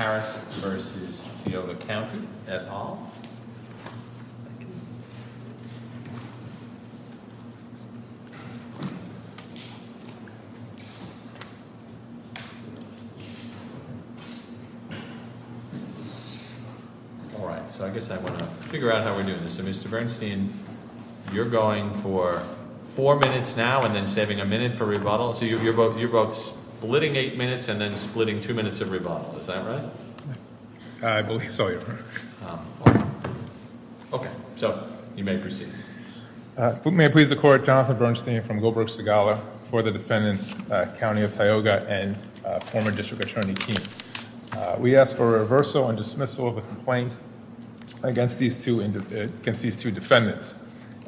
or Harris v. Tioga County at all? All right, so I guess I want to figure out how we're doing this. So Mr. Bernstein, you're going for four minutes now and then saving a minute for rebuttal. So you're both splitting eight minutes and then splitting two minutes of rebuttal. Is that right? I believe so, Your Honor. Okay, so you may proceed. If we may please the court, Jonathan Bernstein from Goldberg Segala for the defendants, County of Tioga and former District Attorney Keene. We ask for reversal and dismissal of a complaint against these two defendants.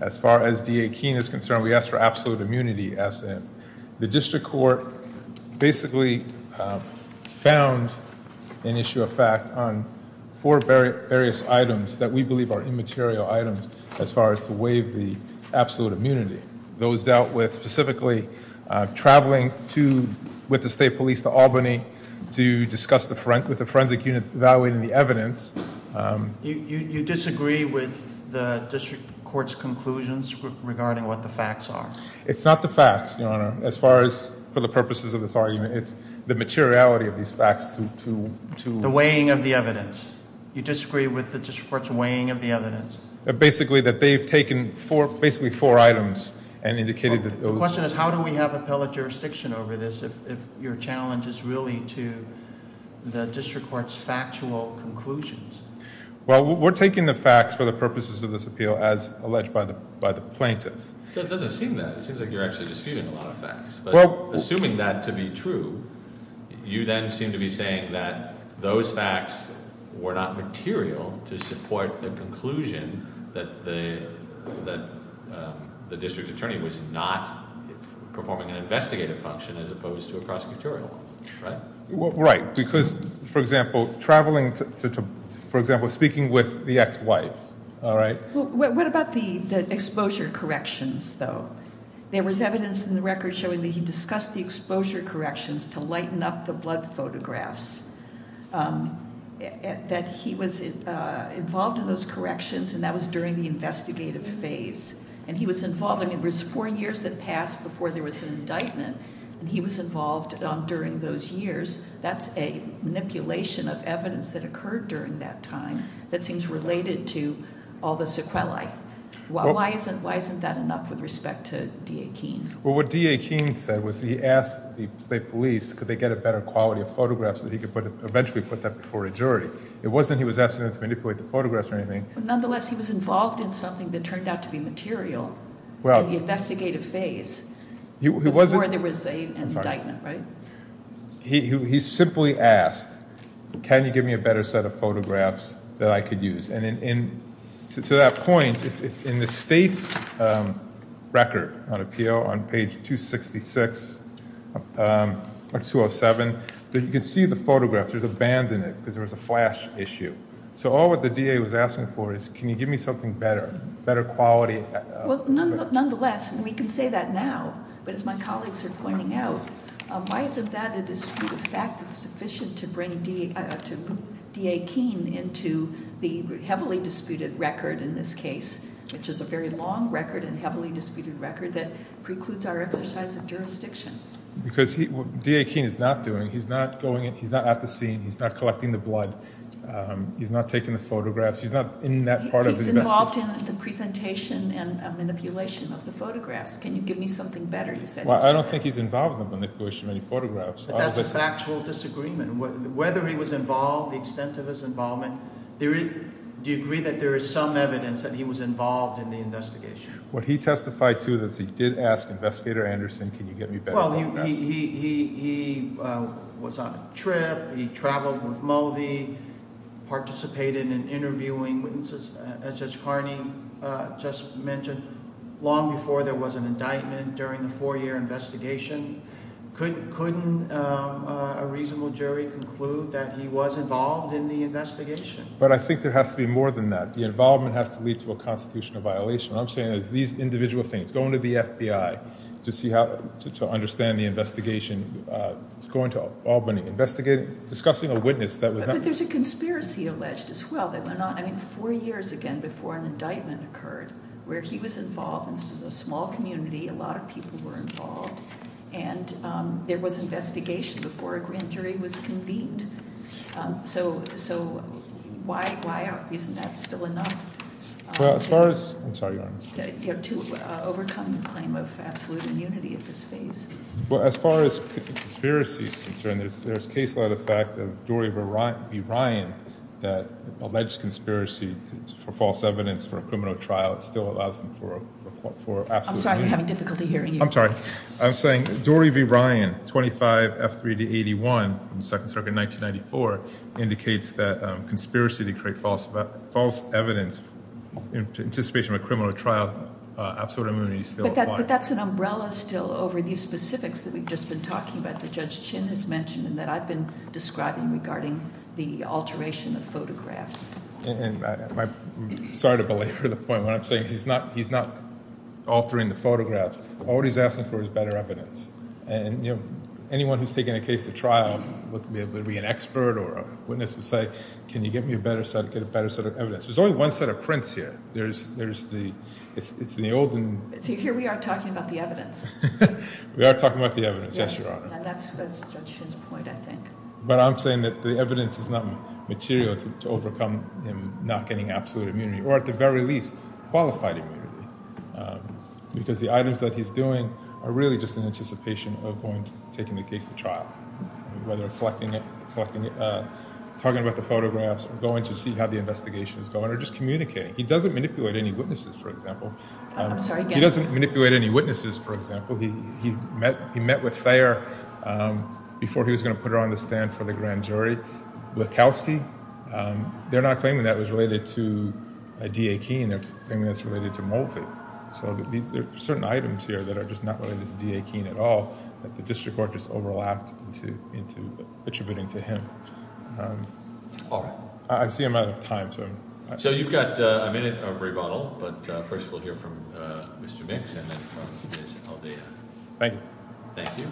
As far as DA Keene is concerned, we ask for absolute immunity as to him. The district court basically found an issue of fact on four various items that we believe are immaterial items as far as to waive the absolute immunity. Those dealt with specifically traveling with the state police to Albany to discuss with the forensic unit evaluating the evidence. You disagree with the district court's conclusions regarding what the facts are? It's not the facts, Your Honor. As far as for the purposes of this argument, it's the materiality of these facts to- The weighing of the evidence. You disagree with the district court's weighing of the evidence? Basically that they've taken basically four items and indicated that those- Well, we're taking the facts for the purposes of this appeal as alleged by the plaintiff. It doesn't seem that. It seems like you're actually disputing a lot of facts. Assuming that to be true, you then seem to be saying that those facts were not material to support the conclusion that the district attorney was not performing an investigative function as opposed to a prosecutorial, right? Because, for example, traveling to- For example, speaking with the ex-wife, all right? What about the exposure corrections, though? There was evidence in the record showing that he discussed the exposure corrections to lighten up the blood photographs, that he was involved in those corrections, and that was during the investigative phase. I mean, it was four years that passed before there was an indictment, and he was involved during those years. That's a manipulation of evidence that occurred during that time that seems related to all the sequelae. Why isn't that enough with respect to D.A. Keene? Well, what D.A. Keene said was he asked the state police, could they get a better quality of photograph so that he could eventually put that before a jury? It wasn't he was asking them to manipulate the photographs or anything. Nonetheless, he was involved in something that turned out to be material in the investigative phase before there was an indictment, right? He simply asked, can you give me a better set of photographs that I could use? And to that point, in the state's record on appeal on page 266 or 207, you can see the photographs. There's a band in it because there was a flash issue. So all that the D.A. was asking for is, can you give me something better, better quality? Well, nonetheless, and we can say that now, but as my colleagues are pointing out, why isn't that a disputed fact that's sufficient to bring D.A. Keene into the heavily disputed record in this case, which is a very long record and heavily disputed record that precludes our exercise of jurisdiction? Because what D.A. Keene is not doing, he's not going in, he's not at the scene, he's not collecting the blood. He's not taking the photographs. He's not in that part of the investigation. He's involved in the presentation and manipulation of the photographs. Can you give me something better? Well, I don't think he's involved in the manipulation of any photographs. But that's a factual disagreement. Whether he was involved, the extent of his involvement, do you agree that there is some evidence that he was involved in the investigation? What he testified to is that he did ask Investigator Anderson, can you get me better photographs? Well, he was on a trip, he traveled with Mulvey, participated in interviewing witnesses, as Judge Carney just mentioned, long before there was an indictment during the four-year investigation. Couldn't a reasonable jury conclude that he was involved in the investigation? But I think there has to be more than that. The involvement has to lead to a constitutional violation. What I'm saying is these individual things, going to the FBI to understand the investigation, going to Albany, investigating, discussing a witness that was not… But there's a conspiracy alleged as well that went on, I mean, four years again before an indictment occurred, where he was involved in a small community, a lot of people were involved, and there was investigation before a grand jury was convened. So, why isn't that still enough? Well, as far as… I'm sorry, Your Honor. To overcome the claim of absolute immunity at this phase. Well, as far as conspiracy is concerned, there's a case-led effect of Dory v. Ryan that alleged conspiracy for false evidence for a criminal trial still allows him for absolute… I'm sorry, we're having difficulty hearing you. I'm sorry. I'm saying Dory v. Ryan, 25 F3 to 81, second circuit, 1994, indicates that conspiracy to create false evidence in anticipation of a criminal trial, absolute immunity still applies. But that's an umbrella still over these specifics that we've just been talking about that Judge Chin has mentioned and that I've been describing regarding the alteration of photographs. And I'm sorry to belabor the point when I'm saying he's not altering the photographs. All he's asking for is better evidence. And, you know, anyone who's taking a case to trial, whether it be an expert or a witness, would say, can you get me a better set of evidence? There's only one set of prints here. It's in the olden… See, here we are talking about the evidence. We are talking about the evidence, yes, Your Honor. And that's Judge Chin's point, I think. But I'm saying that the evidence is not material to overcome him not getting absolute immunity, or at the very least, qualified immunity, because the items that he's doing are really just in anticipation of going and taking the case to trial, whether collecting it, talking about the photographs, going to see how the investigation is going, or just communicating. He doesn't manipulate any witnesses, for example. He doesn't manipulate any witnesses, for example. He met with Thayer before he was going to put her on the stand for the grand jury. Wachowski, they're not claiming that it was related to D.A. Keene. They're claiming that it's related to Moffitt. So there are certain items here that are just not related to D.A. Keene at all, that the district court just overlapped into attributing to him. All right. I see I'm out of time. So you've got a minute of rebuttal, but first we'll hear from Mr. Mix and then from Ms. Aldea. Thank you.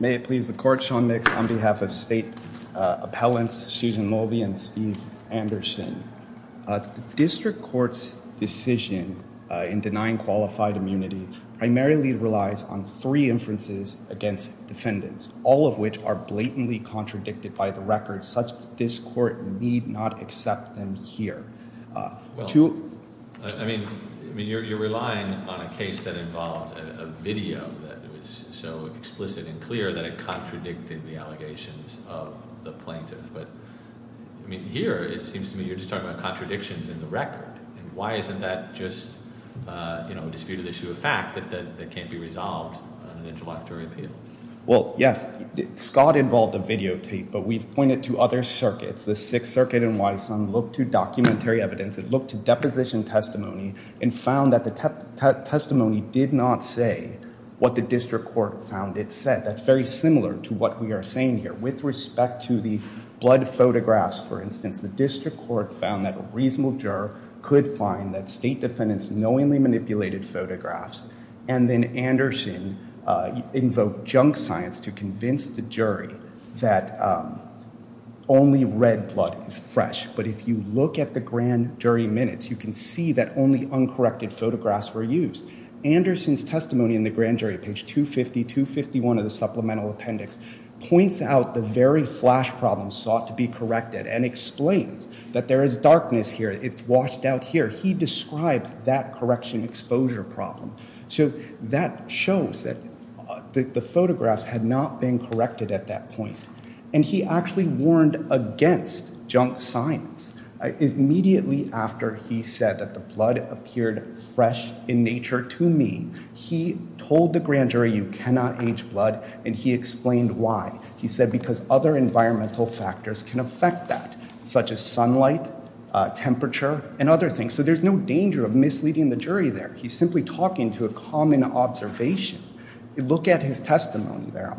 May it please the Court, Sean Mix, on behalf of State Appellants Susan Mulvey and Steve Anderson. The district court's decision in denying qualified immunity primarily relies on three inferences against defendants, all of which are blatantly contradicted by the record such that this court need not accept them here. Well, I mean, you're relying on a case that involved a video that was so explicit and clear that it contradicted the allegations of the plaintiff. But here it seems to me you're just talking about contradictions in the record. Why isn't that just a disputed issue of fact that can't be resolved on an interlocutory appeal? Well, yes. Scott involved a videotape, but we've pointed to other circuits. The Sixth Circuit in Wysom looked to documentary evidence. It looked to deposition testimony and found that the testimony did not say what the district court found it said. That's very similar to what we are saying here. With respect to the blood photographs, for instance, the district court found that a reasonable juror could find that state defendants knowingly manipulated photographs, and then Anderson invoked junk science to convince the jury that only red blood is fresh. But if you look at the grand jury minutes, you can see that only uncorrected photographs were used. Anderson's testimony in the grand jury, page 250, 251 of the supplemental appendix, points out the very flash problem sought to be corrected and explains that there is darkness here. It's washed out here. He describes that correction exposure problem. So that shows that the photographs had not been corrected at that point. And he actually warned against junk science. Immediately after he said that the blood appeared fresh in nature to me, he told the grand jury you cannot age blood, and he explained why. He said because other environmental factors can affect that, such as sunlight, temperature, and other things. So there's no danger of misleading the jury there. He's simply talking to a common observation. Look at his testimony there.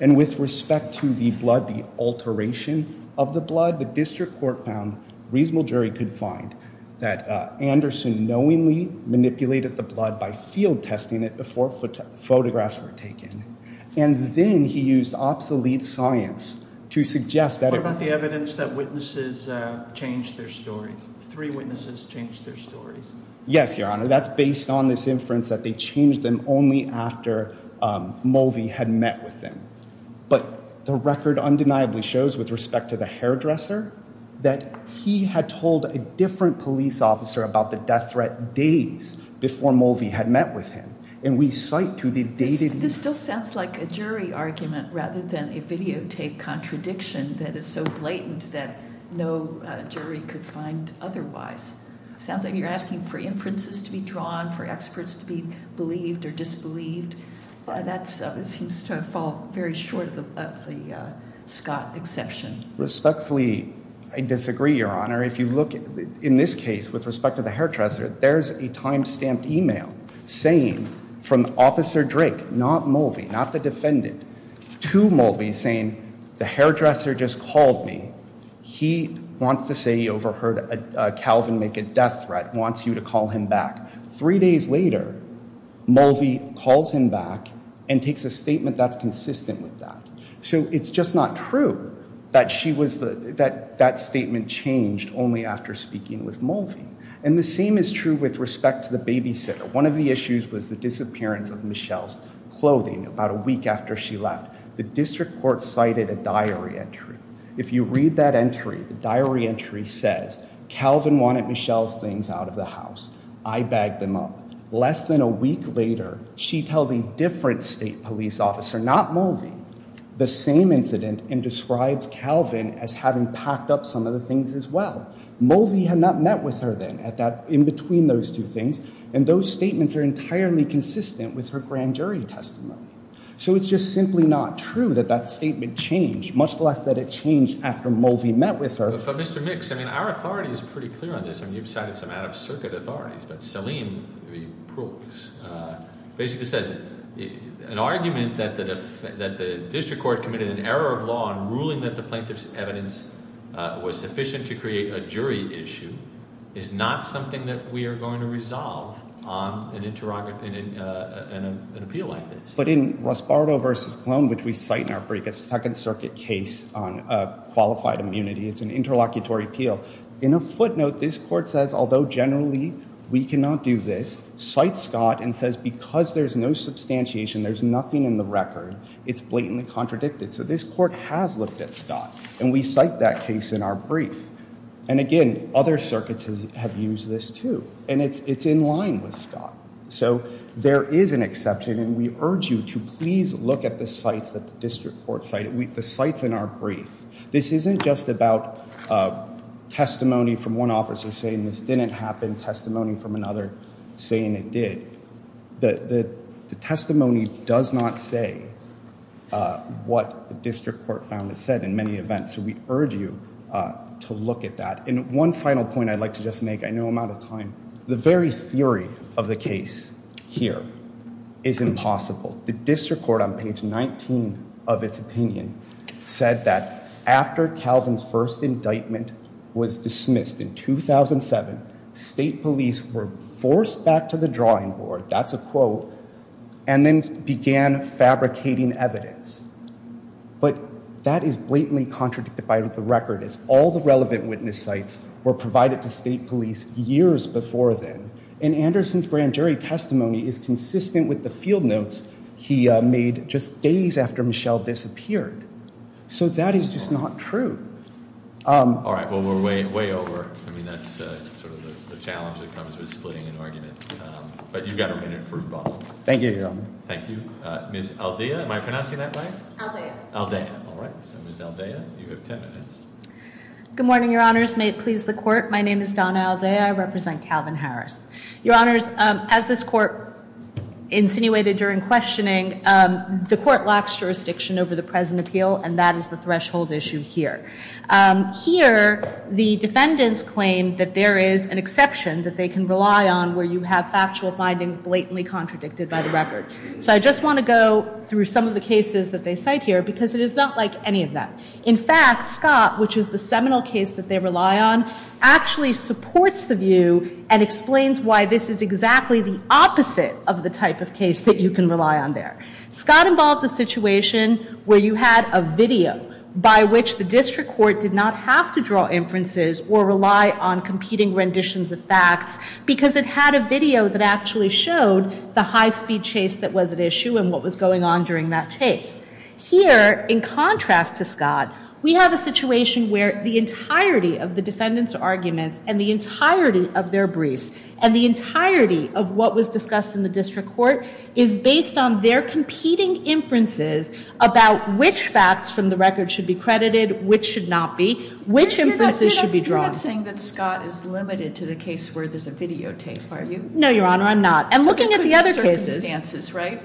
And with respect to the blood, the alteration of the blood, the district court found a reasonable jury could find that Anderson knowingly manipulated the blood by field testing it before photographs were taken. And then he used obsolete science to suggest that it was- Three witnesses changed their stories. Yes, Your Honor. That's based on this inference that they changed them only after Mulvey had met with him. But the record undeniably shows, with respect to the hairdresser, that he had told a different police officer about the death threat days before Mulvey had met with him. And we cite to the dated- This still sounds like a jury argument rather than a videotape contradiction that is so blatant that no jury could find otherwise. It sounds like you're asking for inferences to be drawn, for experts to be believed or disbelieved. That seems to fall very short of the Scott exception. Respectfully, I disagree, Your Honor. In this case, with respect to the hairdresser, there's a time-stamped e-mail saying from Officer Drake, not Mulvey, not the defendant, to Mulvey saying, the hairdresser just called me. He wants to say he overheard Calvin make a death threat, wants you to call him back. Three days later, Mulvey calls him back and takes a statement that's consistent with that. So it's just not true that that statement changed only after speaking with Mulvey. And the same is true with respect to the babysitter. One of the issues was the disappearance of Michelle's clothing about a week after she left. The district court cited a diary entry. If you read that entry, the diary entry says, Calvin wanted Michelle's things out of the house. I bagged them up. Less than a week later, she tells a different state police officer, not Mulvey, the same incident, and describes Calvin as having packed up some of the things as well. Mulvey had not met with her then in between those two things, and those statements are entirely consistent with her grand jury testimony. So it's just simply not true that that statement changed, much less that it changed after Mulvey met with her. But, Mr. Mix, I mean, our authority is pretty clear on this. I mean, you've cited some out-of-circuit authorities. But Saleem proves, basically says an argument that the district court committed an error of law in ruling that the plaintiff's evidence was sufficient to create a jury issue is not something that we are going to resolve on an appeal like this. But in Raspardo v. Clone, which we cite in our second circuit case on qualified immunity, it's an interlocutory appeal. In a footnote, this court says, although generally we cannot do this, cites Scott and says because there's no substantiation, there's nothing in the record, it's blatantly contradicted. So this court has looked at Scott, and we cite that case in our brief. And again, other circuits have used this too, and it's in line with Scott. So there is an exception, and we urge you to please look at the sites that the district court cited, the sites in our brief. This isn't just about testimony from one officer saying this didn't happen, testimony from another saying it did. The testimony does not say what the district court found it said in many events. So we urge you to look at that. And one final point I'd like to just make, I know I'm out of time. The very theory of the case here is impossible. The district court on page 19 of its opinion said that after Calvin's first indictment was dismissed in 2007, state police were forced back to the drawing board, that's a quote, and then began fabricating evidence. But that is blatantly contradicted by the record, as all the relevant witness sites were provided to state police years before then. And Anderson's grand jury testimony is consistent with the field notes he made just days after Michelle disappeared. So that is just not true. All right, well, we're way over. I mean, that's sort of the challenge that comes with splitting an argument. But you've got a minute for both. Thank you, Your Honor. Thank you. Ms. Aldea, am I pronouncing that right? Aldea. Aldea, all right. So Ms. Aldea, you have ten minutes. Good morning, Your Honors. May it please the Court. My name is Donna Aldea. I represent Calvin Harris. Your Honors, as this Court insinuated during questioning, the Court lacks jurisdiction over the present appeal, and that is the threshold issue here. Here, the defendants claim that there is an exception that they can rely on where you have factual findings blatantly contradicted by the record. So I just want to go through some of the cases that they cite here because it is not like any of them. In fact, Scott, which is the seminal case that they rely on, actually supports the view and explains why this is exactly the opposite of the type of case that you can rely on there. Scott involved a situation where you had a video by which the district court did not have to draw inferences or rely on competing renditions of facts because it had a video that actually showed the high-speed chase that was at issue and what was going on during that chase. Here, in contrast to Scott, we have a situation where the entirety of the defendant's arguments and the entirety of their briefs and the entirety of what was discussed in the district court is based on their competing inferences about which facts from the record should be credited, which should not be, which inferences should be drawn. You're not saying that Scott is limited to the case where there's a videotape, are you? No, Your Honor, I'm not. I'm looking at the other cases.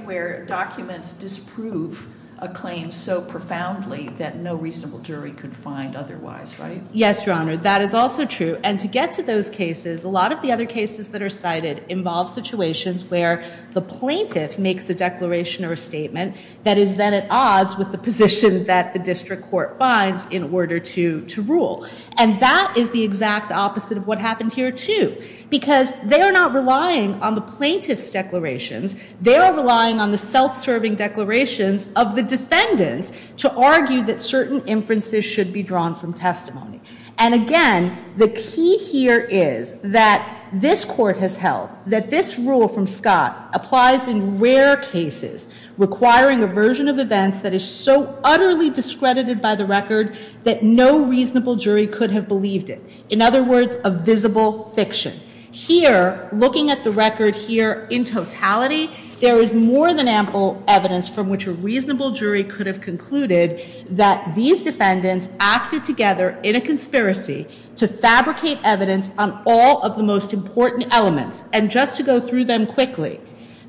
Where documents disprove a claim so profoundly that no reasonable jury could find otherwise, right? Yes, Your Honor, that is also true. And to get to those cases, a lot of the other cases that are cited involve situations where the plaintiff makes a declaration or a statement that is then at odds with the position that the district court finds in order to rule. And that is the exact opposite of what happened here, too, because they are not relying on the plaintiff's declarations they are relying on the self-serving declarations of the defendants to argue that certain inferences should be drawn from testimony. And again, the key here is that this court has held that this rule from Scott applies in rare cases, requiring a version of events that is so utterly discredited by the record that no reasonable jury could have believed it. In other words, a visible fiction. Here, looking at the record here in totality, there is more than ample evidence from which a reasonable jury could have concluded that these defendants acted together in a conspiracy to fabricate evidence on all of the most important elements and just to go through them quickly.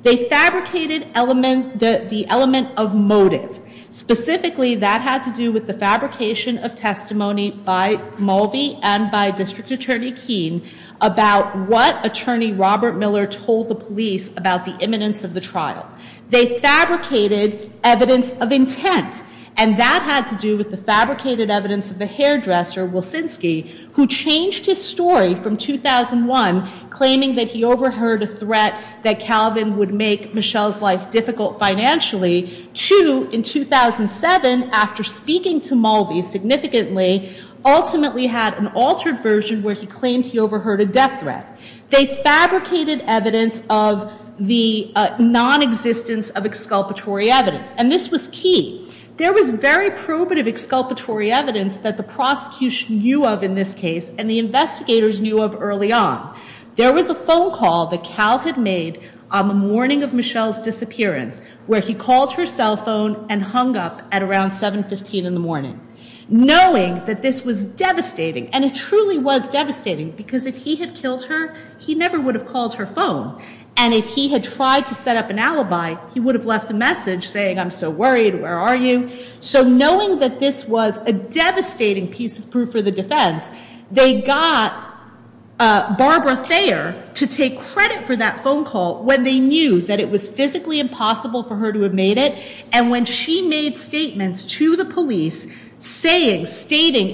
They fabricated the element of motive. Specifically, that had to do with the fabrication of testimony by Mulvey and by District Attorney Keene about what Attorney Robert Miller told the police about the imminence of the trial. They fabricated evidence of intent. And that had to do with the fabricated evidence of the hairdresser, Wilsinski, who changed his story from 2001, claiming that he overheard a threat that Calvin would make Michelle's life difficult financially, to in 2007, after speaking to Mulvey significantly, ultimately had an altered version where he claimed he overheard a death threat. They fabricated evidence of the nonexistence of exculpatory evidence. And this was key. There was very probative exculpatory evidence that the prosecution knew of in this case and the investigators knew of early on. There was a phone call that Cal had made on the morning of Michelle's disappearance, where he called her cell phone and hung up at around 7.15 in the morning, knowing that this was devastating. And it truly was devastating, because if he had killed her, he never would have called her phone. And if he had tried to set up an alibi, he would have left a message saying, I'm so worried, where are you? So knowing that this was a devastating piece of proof for the defense, they got Barbara Thayer to take credit for that phone call when they knew that it was physically impossible for her to have made it, and when she made statements to the police stating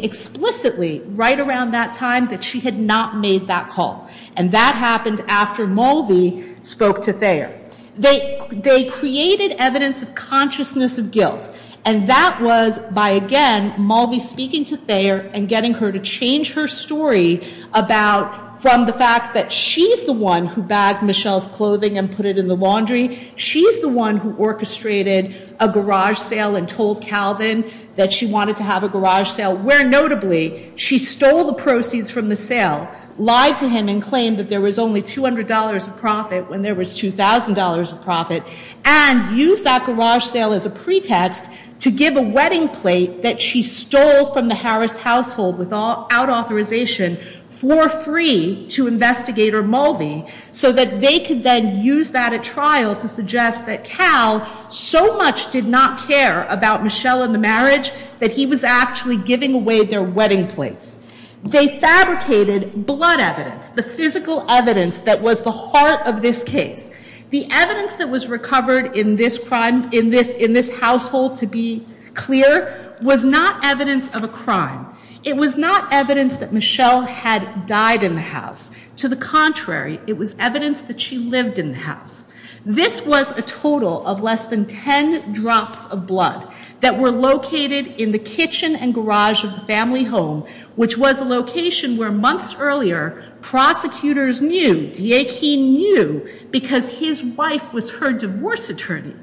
explicitly right around that time that she had not made that call. And that happened after Mulvey spoke to Thayer. They created evidence of consciousness of guilt. And that was by, again, Mulvey speaking to Thayer and getting her to change her story about, from the fact that she's the one who bagged Michelle's clothing and put it in the laundry, she's the one who orchestrated a garage sale and told Calvin that she wanted to have a garage sale, where notably she stole the proceeds from the sale, lied to him and claimed that there was only $200 of profit when there was $2,000 of profit, and used that garage sale as a pretext to give a wedding plate that she stole from the Harris household without authorization for free to investigator Mulvey, so that they could then use that at trial to suggest that Cal so much did not care about Michelle and the marriage that he was actually giving away their wedding plates. They fabricated blood evidence, the physical evidence that was the heart of this case. The evidence that was recovered in this crime, in this household, to be clear, was not evidence of a crime. It was not evidence that Michelle had died in the house. To the contrary, it was evidence that she lived in the house. This was a total of less than 10 drops of blood that were located in the kitchen and garage of the family home, which was a location where months earlier prosecutors knew, Diakine knew, because his wife was her divorce attorney.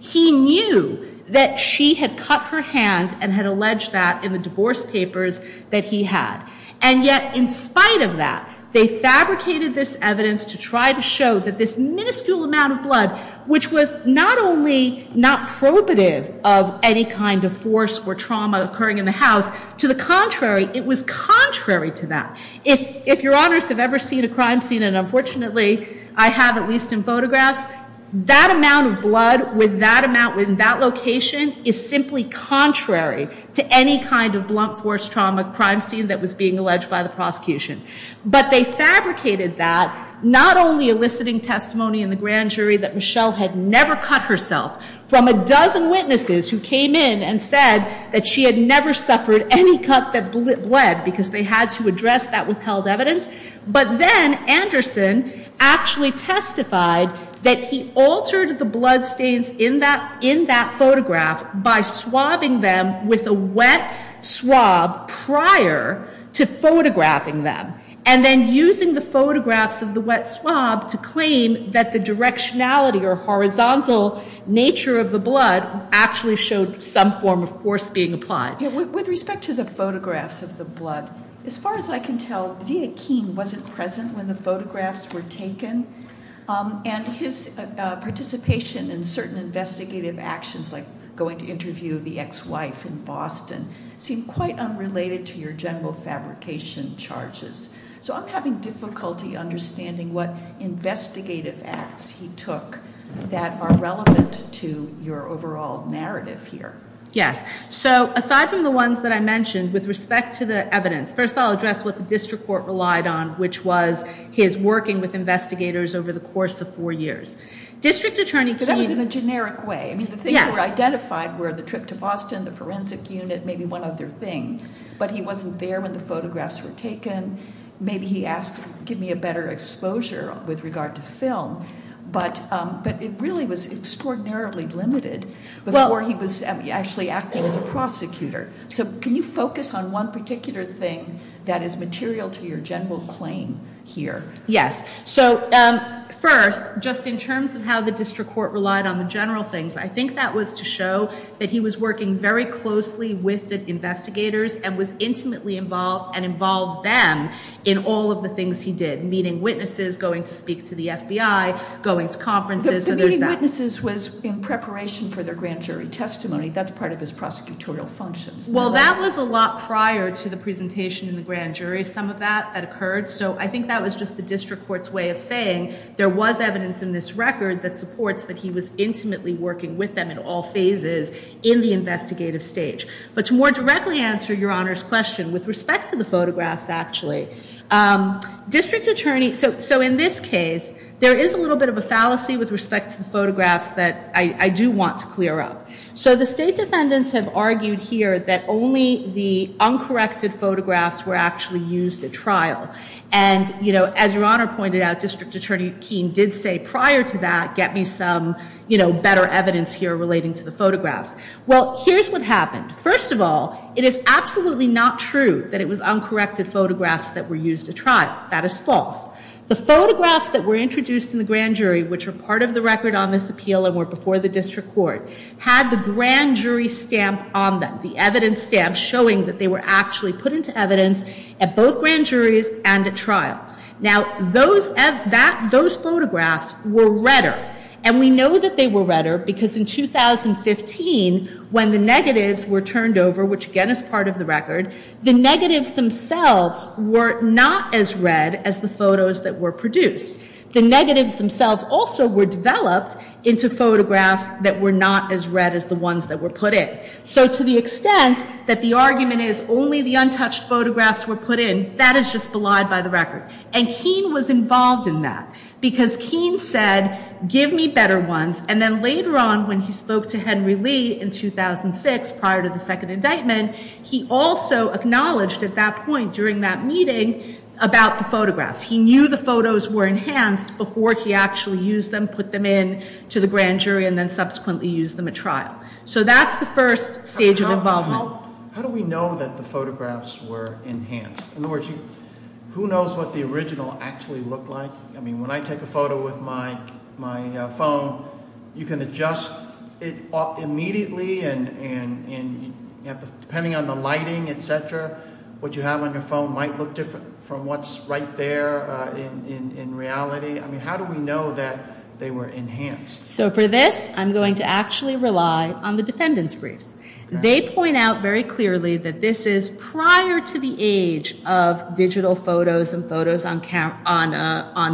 He knew that she had cut her hand and had alleged that in the divorce papers that he had. And yet, in spite of that, they fabricated this evidence to try to show that this minuscule amount of blood, which was not only not probative of any kind of force or trauma occurring in the house, to the contrary, it was contrary to that. If your honors have ever seen a crime scene, and unfortunately I have, at least in photographs, that amount of blood with that amount within that location is simply contrary to any kind of blunt force trauma crime scene that was being alleged by the prosecution. But they fabricated that not only eliciting testimony in the grand jury that Michelle had never cut herself from a dozen witnesses who came in and said that she had never suffered any cut that bled because they had to address that withheld evidence, but then Anderson actually testified that he altered the blood stains in that photograph by swabbing them with a wet swab prior to photographing them. And then using the photographs of the wet swab to claim that the directionality or horizontal nature of the blood actually showed some form of force being applied. With respect to the photographs of the blood, as far as I can tell, Diakine wasn't present when the photographs were taken. And his participation in certain investigative actions, like going to interview the ex-wife in Boston, seemed quite unrelated to your general fabrication charges. So I'm having difficulty understanding what investigative acts he took that are relevant to your overall narrative here. Yes. So aside from the ones that I mentioned, with respect to the evidence, first I'll address what the district court relied on, which was his working with investigators over the course of four years. That was in a generic way. I mean, the things that were identified were the trip to Boston, the forensic unit, maybe one other thing. But he wasn't there when the photographs were taken. Maybe he asked, give me a better exposure with regard to film. But it really was extraordinarily limited before he was actually acting as a prosecutor. So can you focus on one particular thing that is material to your general claim here? Yes. So first, just in terms of how the district court relied on the general things, I think that was to show that he was working very closely with the investigators and was intimately involved and involved them in all of the things he did, meeting witnesses, going to speak to the FBI, going to conferences. The meeting witnesses was in preparation for their grand jury testimony. That's part of his prosecutorial functions. Well, that was a lot prior to the presentation in the grand jury. Some of that had occurred. So I think that was just the district court's way of saying there was evidence in this record that supports that he was intimately working with them in all phases in the investigative stage. But to more directly answer your honor's question with respect to the photographs, actually, district attorney. So in this case, there is a little bit of a fallacy with respect to the photographs that I do want to clear up. So the state defendants have argued here that only the uncorrected photographs were actually used at trial. And, you know, as your honor pointed out, District Attorney Keene did say prior to that, get me some better evidence here relating to the photographs. Well, here's what happened. First of all, it is absolutely not true that it was uncorrected photographs that were used to trial. That is false. The photographs that were introduced in the grand jury, which are part of the record on this appeal and were before the district court, had the grand jury stamp on them, the evidence stamp showing that they were actually put into evidence at both grand juries and at trial. Now, those photographs were redder. And we know that they were redder because in 2015, when the negatives were turned over, which again is part of the record, the negatives themselves were not as red as the photos that were produced. The negatives themselves also were developed into photographs that were not as red as the ones that were put in. So to the extent that the argument is only the untouched photographs were put in, that is just belied by the record. And Keene was involved in that because Keene said, give me better ones. And then later on, when he spoke to Henry Lee in 2006, prior to the second indictment, he also acknowledged at that point during that meeting about the photographs. He knew the photos were enhanced before he actually used them, put them in to the grand jury and then subsequently used them at trial. So that's the first stage of involvement. How do we know that the photographs were enhanced? In other words, who knows what the original actually looked like? I mean, when I take a photo with my phone, you can adjust it immediately and depending on the lighting, et cetera, what you have on your phone might look different from what's right there in reality. I mean, how do we know that they were enhanced? So for this, I'm going to actually rely on the defendant's briefs. They point out very clearly that this is prior to the age of digital photos and photos on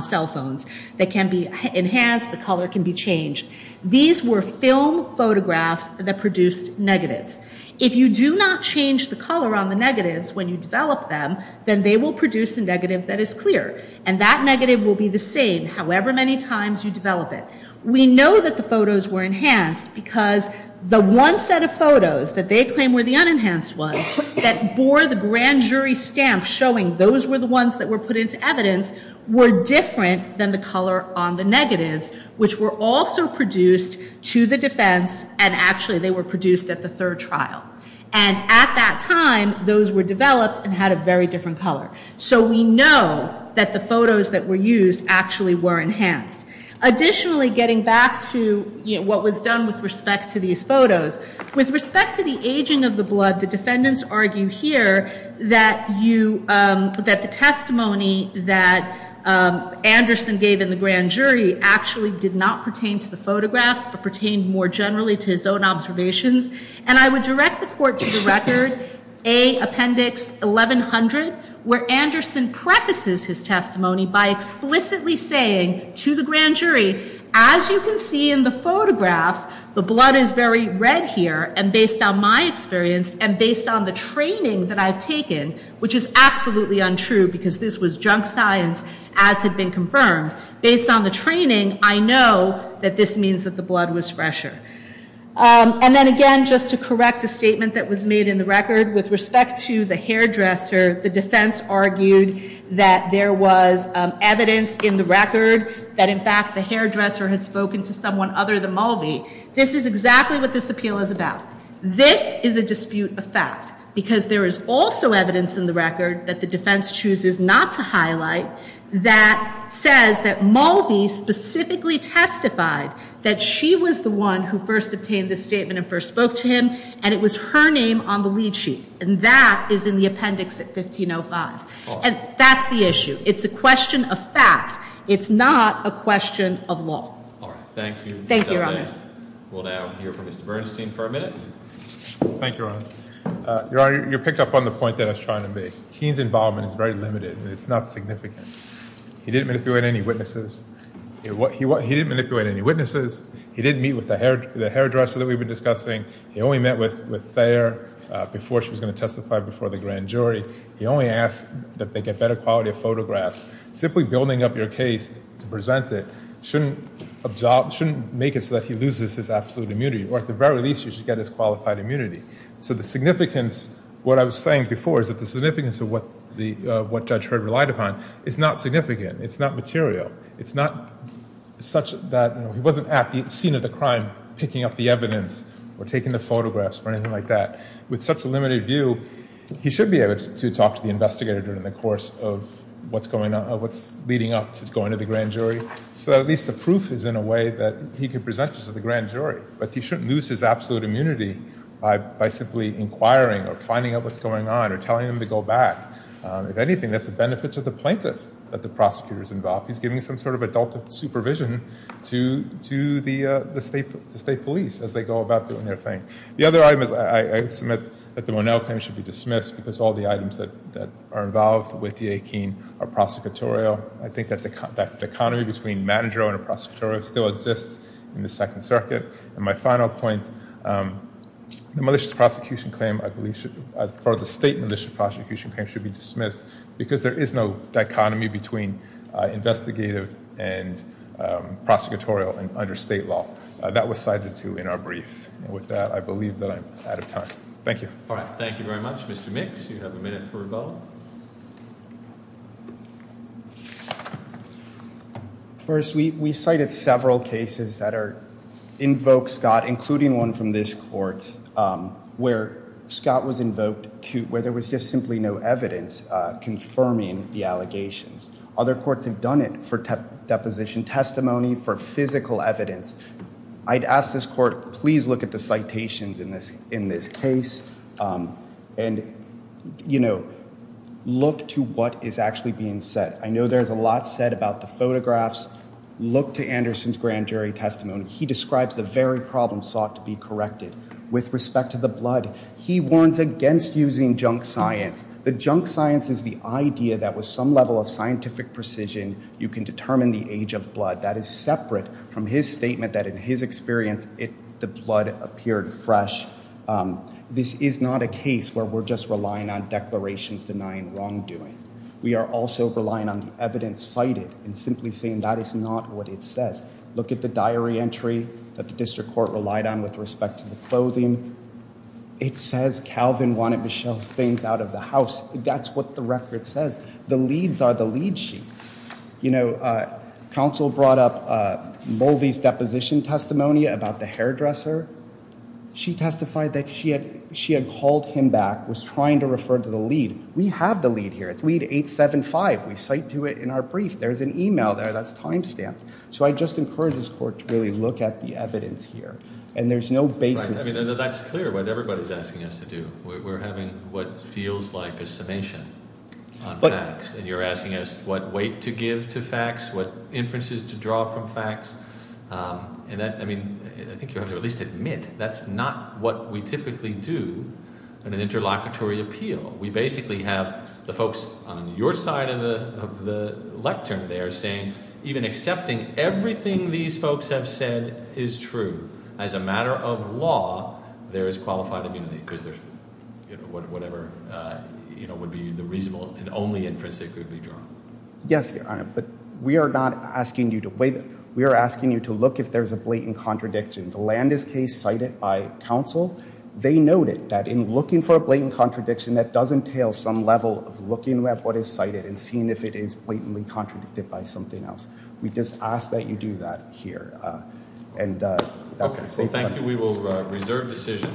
cell phones. They can be enhanced, the color can be changed. These were film photographs that produced negatives. If you do not change the color on the negatives when you develop them, then they will produce a negative that is clear. And that negative will be the same however many times you develop it. We know that the photos were enhanced because the one set of photos that they claim were the unenhanced ones that bore the grand jury stamp showing those were the ones that were put into evidence were different than the color on the negatives, which were also produced to the defense and actually they were produced at the third trial. And at that time, those were developed and had a very different color. So we know that the photos that were used actually were enhanced. Additionally, getting back to what was done with respect to these photos, with respect to the aging of the blood, the defendants argue here that the testimony that Anderson gave in the grand jury actually did not pertain to the photographs but pertained more generally to his own observations. And I would direct the court to the record, A, appendix 1100, where Anderson prefaces his testimony by explicitly saying to the grand jury, as you can see in the photographs, the blood is very red here. And based on my experience and based on the training that I've taken, which is absolutely untrue because this was junk science as had been confirmed, based on the training, I know that this means that the blood was fresher. And then again, just to correct a statement that was made in the record, with respect to the hairdresser, the defense argued that there was evidence in the record that in fact the hairdresser had spoken to someone other than Mulvey. This is exactly what this appeal is about. This is a dispute of fact because there is also evidence in the record that the defense chooses not to highlight that says that Mulvey specifically testified that she was the one who first obtained this statement and first spoke to him, and it was her name on the lead sheet. And that is in the appendix at 1505. And that's the issue. It's a question of fact. It's not a question of law. All right. Thank you. Thank you, Your Honor. We'll now hear from Mr. Bernstein for a minute. Thank you, Your Honor. Your Honor, you picked up on the point that I was trying to make. Keene's involvement is very limited, and it's not significant. He didn't manipulate any witnesses. He didn't manipulate any witnesses. He didn't meet with the hairdresser that we've been discussing. He only met with Thayer before she was going to testify before the grand jury. He only asked that they get better quality photographs. Simply building up your case to present it shouldn't make it so that he loses his absolute immunity, or at the very least you should get his qualified immunity. So the significance, what I was saying before, is that the significance of what Judge Hurd relied upon is not significant. It's not material. It's not such that he wasn't at the scene of the crime picking up the evidence or taking the photographs or anything like that. With such a limited view, he should be able to talk to the investigator during the course of what's leading up to going to the grand jury so that at least the proof is in a way that he can present this to the grand jury. But he shouldn't lose his absolute immunity by simply inquiring or finding out what's going on or telling him to go back. If anything, that's a benefit to the plaintiff that the prosecutor's involved. He's giving some sort of adult supervision to the state police as they go about doing their thing. The other item is I submit that the Monell claim should be dismissed because all the items that are involved with the 18 are prosecutorial. I think that dichotomy between managerial and prosecutorial still exists in the Second Circuit. My final point, the malicious prosecution claim, I believe for the state malicious prosecution claim should be dismissed because there is no dichotomy between investigative and prosecutorial under state law. That was cited, too, in our brief. With that, I believe that I'm out of time. Thank you. All right, thank you very much. Mr. Mix, you have a minute for a vote. First, we cited several cases that invoke Scott, including one from this court where Scott was invoked where there was just simply no evidence confirming the allegations. Other courts have done it for deposition testimony, for physical evidence. I'd ask this court, please look at the citations in this case and, you know, look to what is actually being said. I know there's a lot said about the photographs. Look to Anderson's grand jury testimony. He describes the very problem sought to be corrected. With respect to the blood, he warns against using junk science. The junk science is the idea that with some level of scientific precision, you can determine the age of blood. That is separate from his statement that, in his experience, the blood appeared fresh. This is not a case where we're just relying on declarations denying wrongdoing. We are also relying on the evidence cited and simply saying that is not what it says. Look at the diary entry that the district court relied on with respect to the clothing. It says Calvin wanted Michelle's things out of the house. That's what the record says. The leads are the lead sheets. You know, counsel brought up Mulvey's deposition testimony about the hairdresser. She testified that she had called him back, was trying to refer to the lead. We have the lead here. It's lead 875. We cite to it in our brief. There's an email there that's timestamped. So I just encourage this court to really look at the evidence here. And there's no basis to it. That's clear what everybody's asking us to do. We're having what feels like a summation on facts. And you're asking us what weight to give to facts, what inferences to draw from facts. And that, I mean, I think you have to at least admit that's not what we typically do in an interlocutory appeal. We basically have the folks on your side of the lectern there saying even accepting everything these folks have said is true. As a matter of law, there is qualified immunity because there's whatever would be the reasonable and only inference that could be drawn. Yes, but we are not asking you to weigh them. We are asking you to look if there's a blatant contradiction. The Landis case cited by counsel, they noted that in looking for a blatant contradiction, that does entail some level of looking at what is cited and seeing if it is blatantly contradicted by something else. We just ask that you do that here. Thank you. We will reserve decision.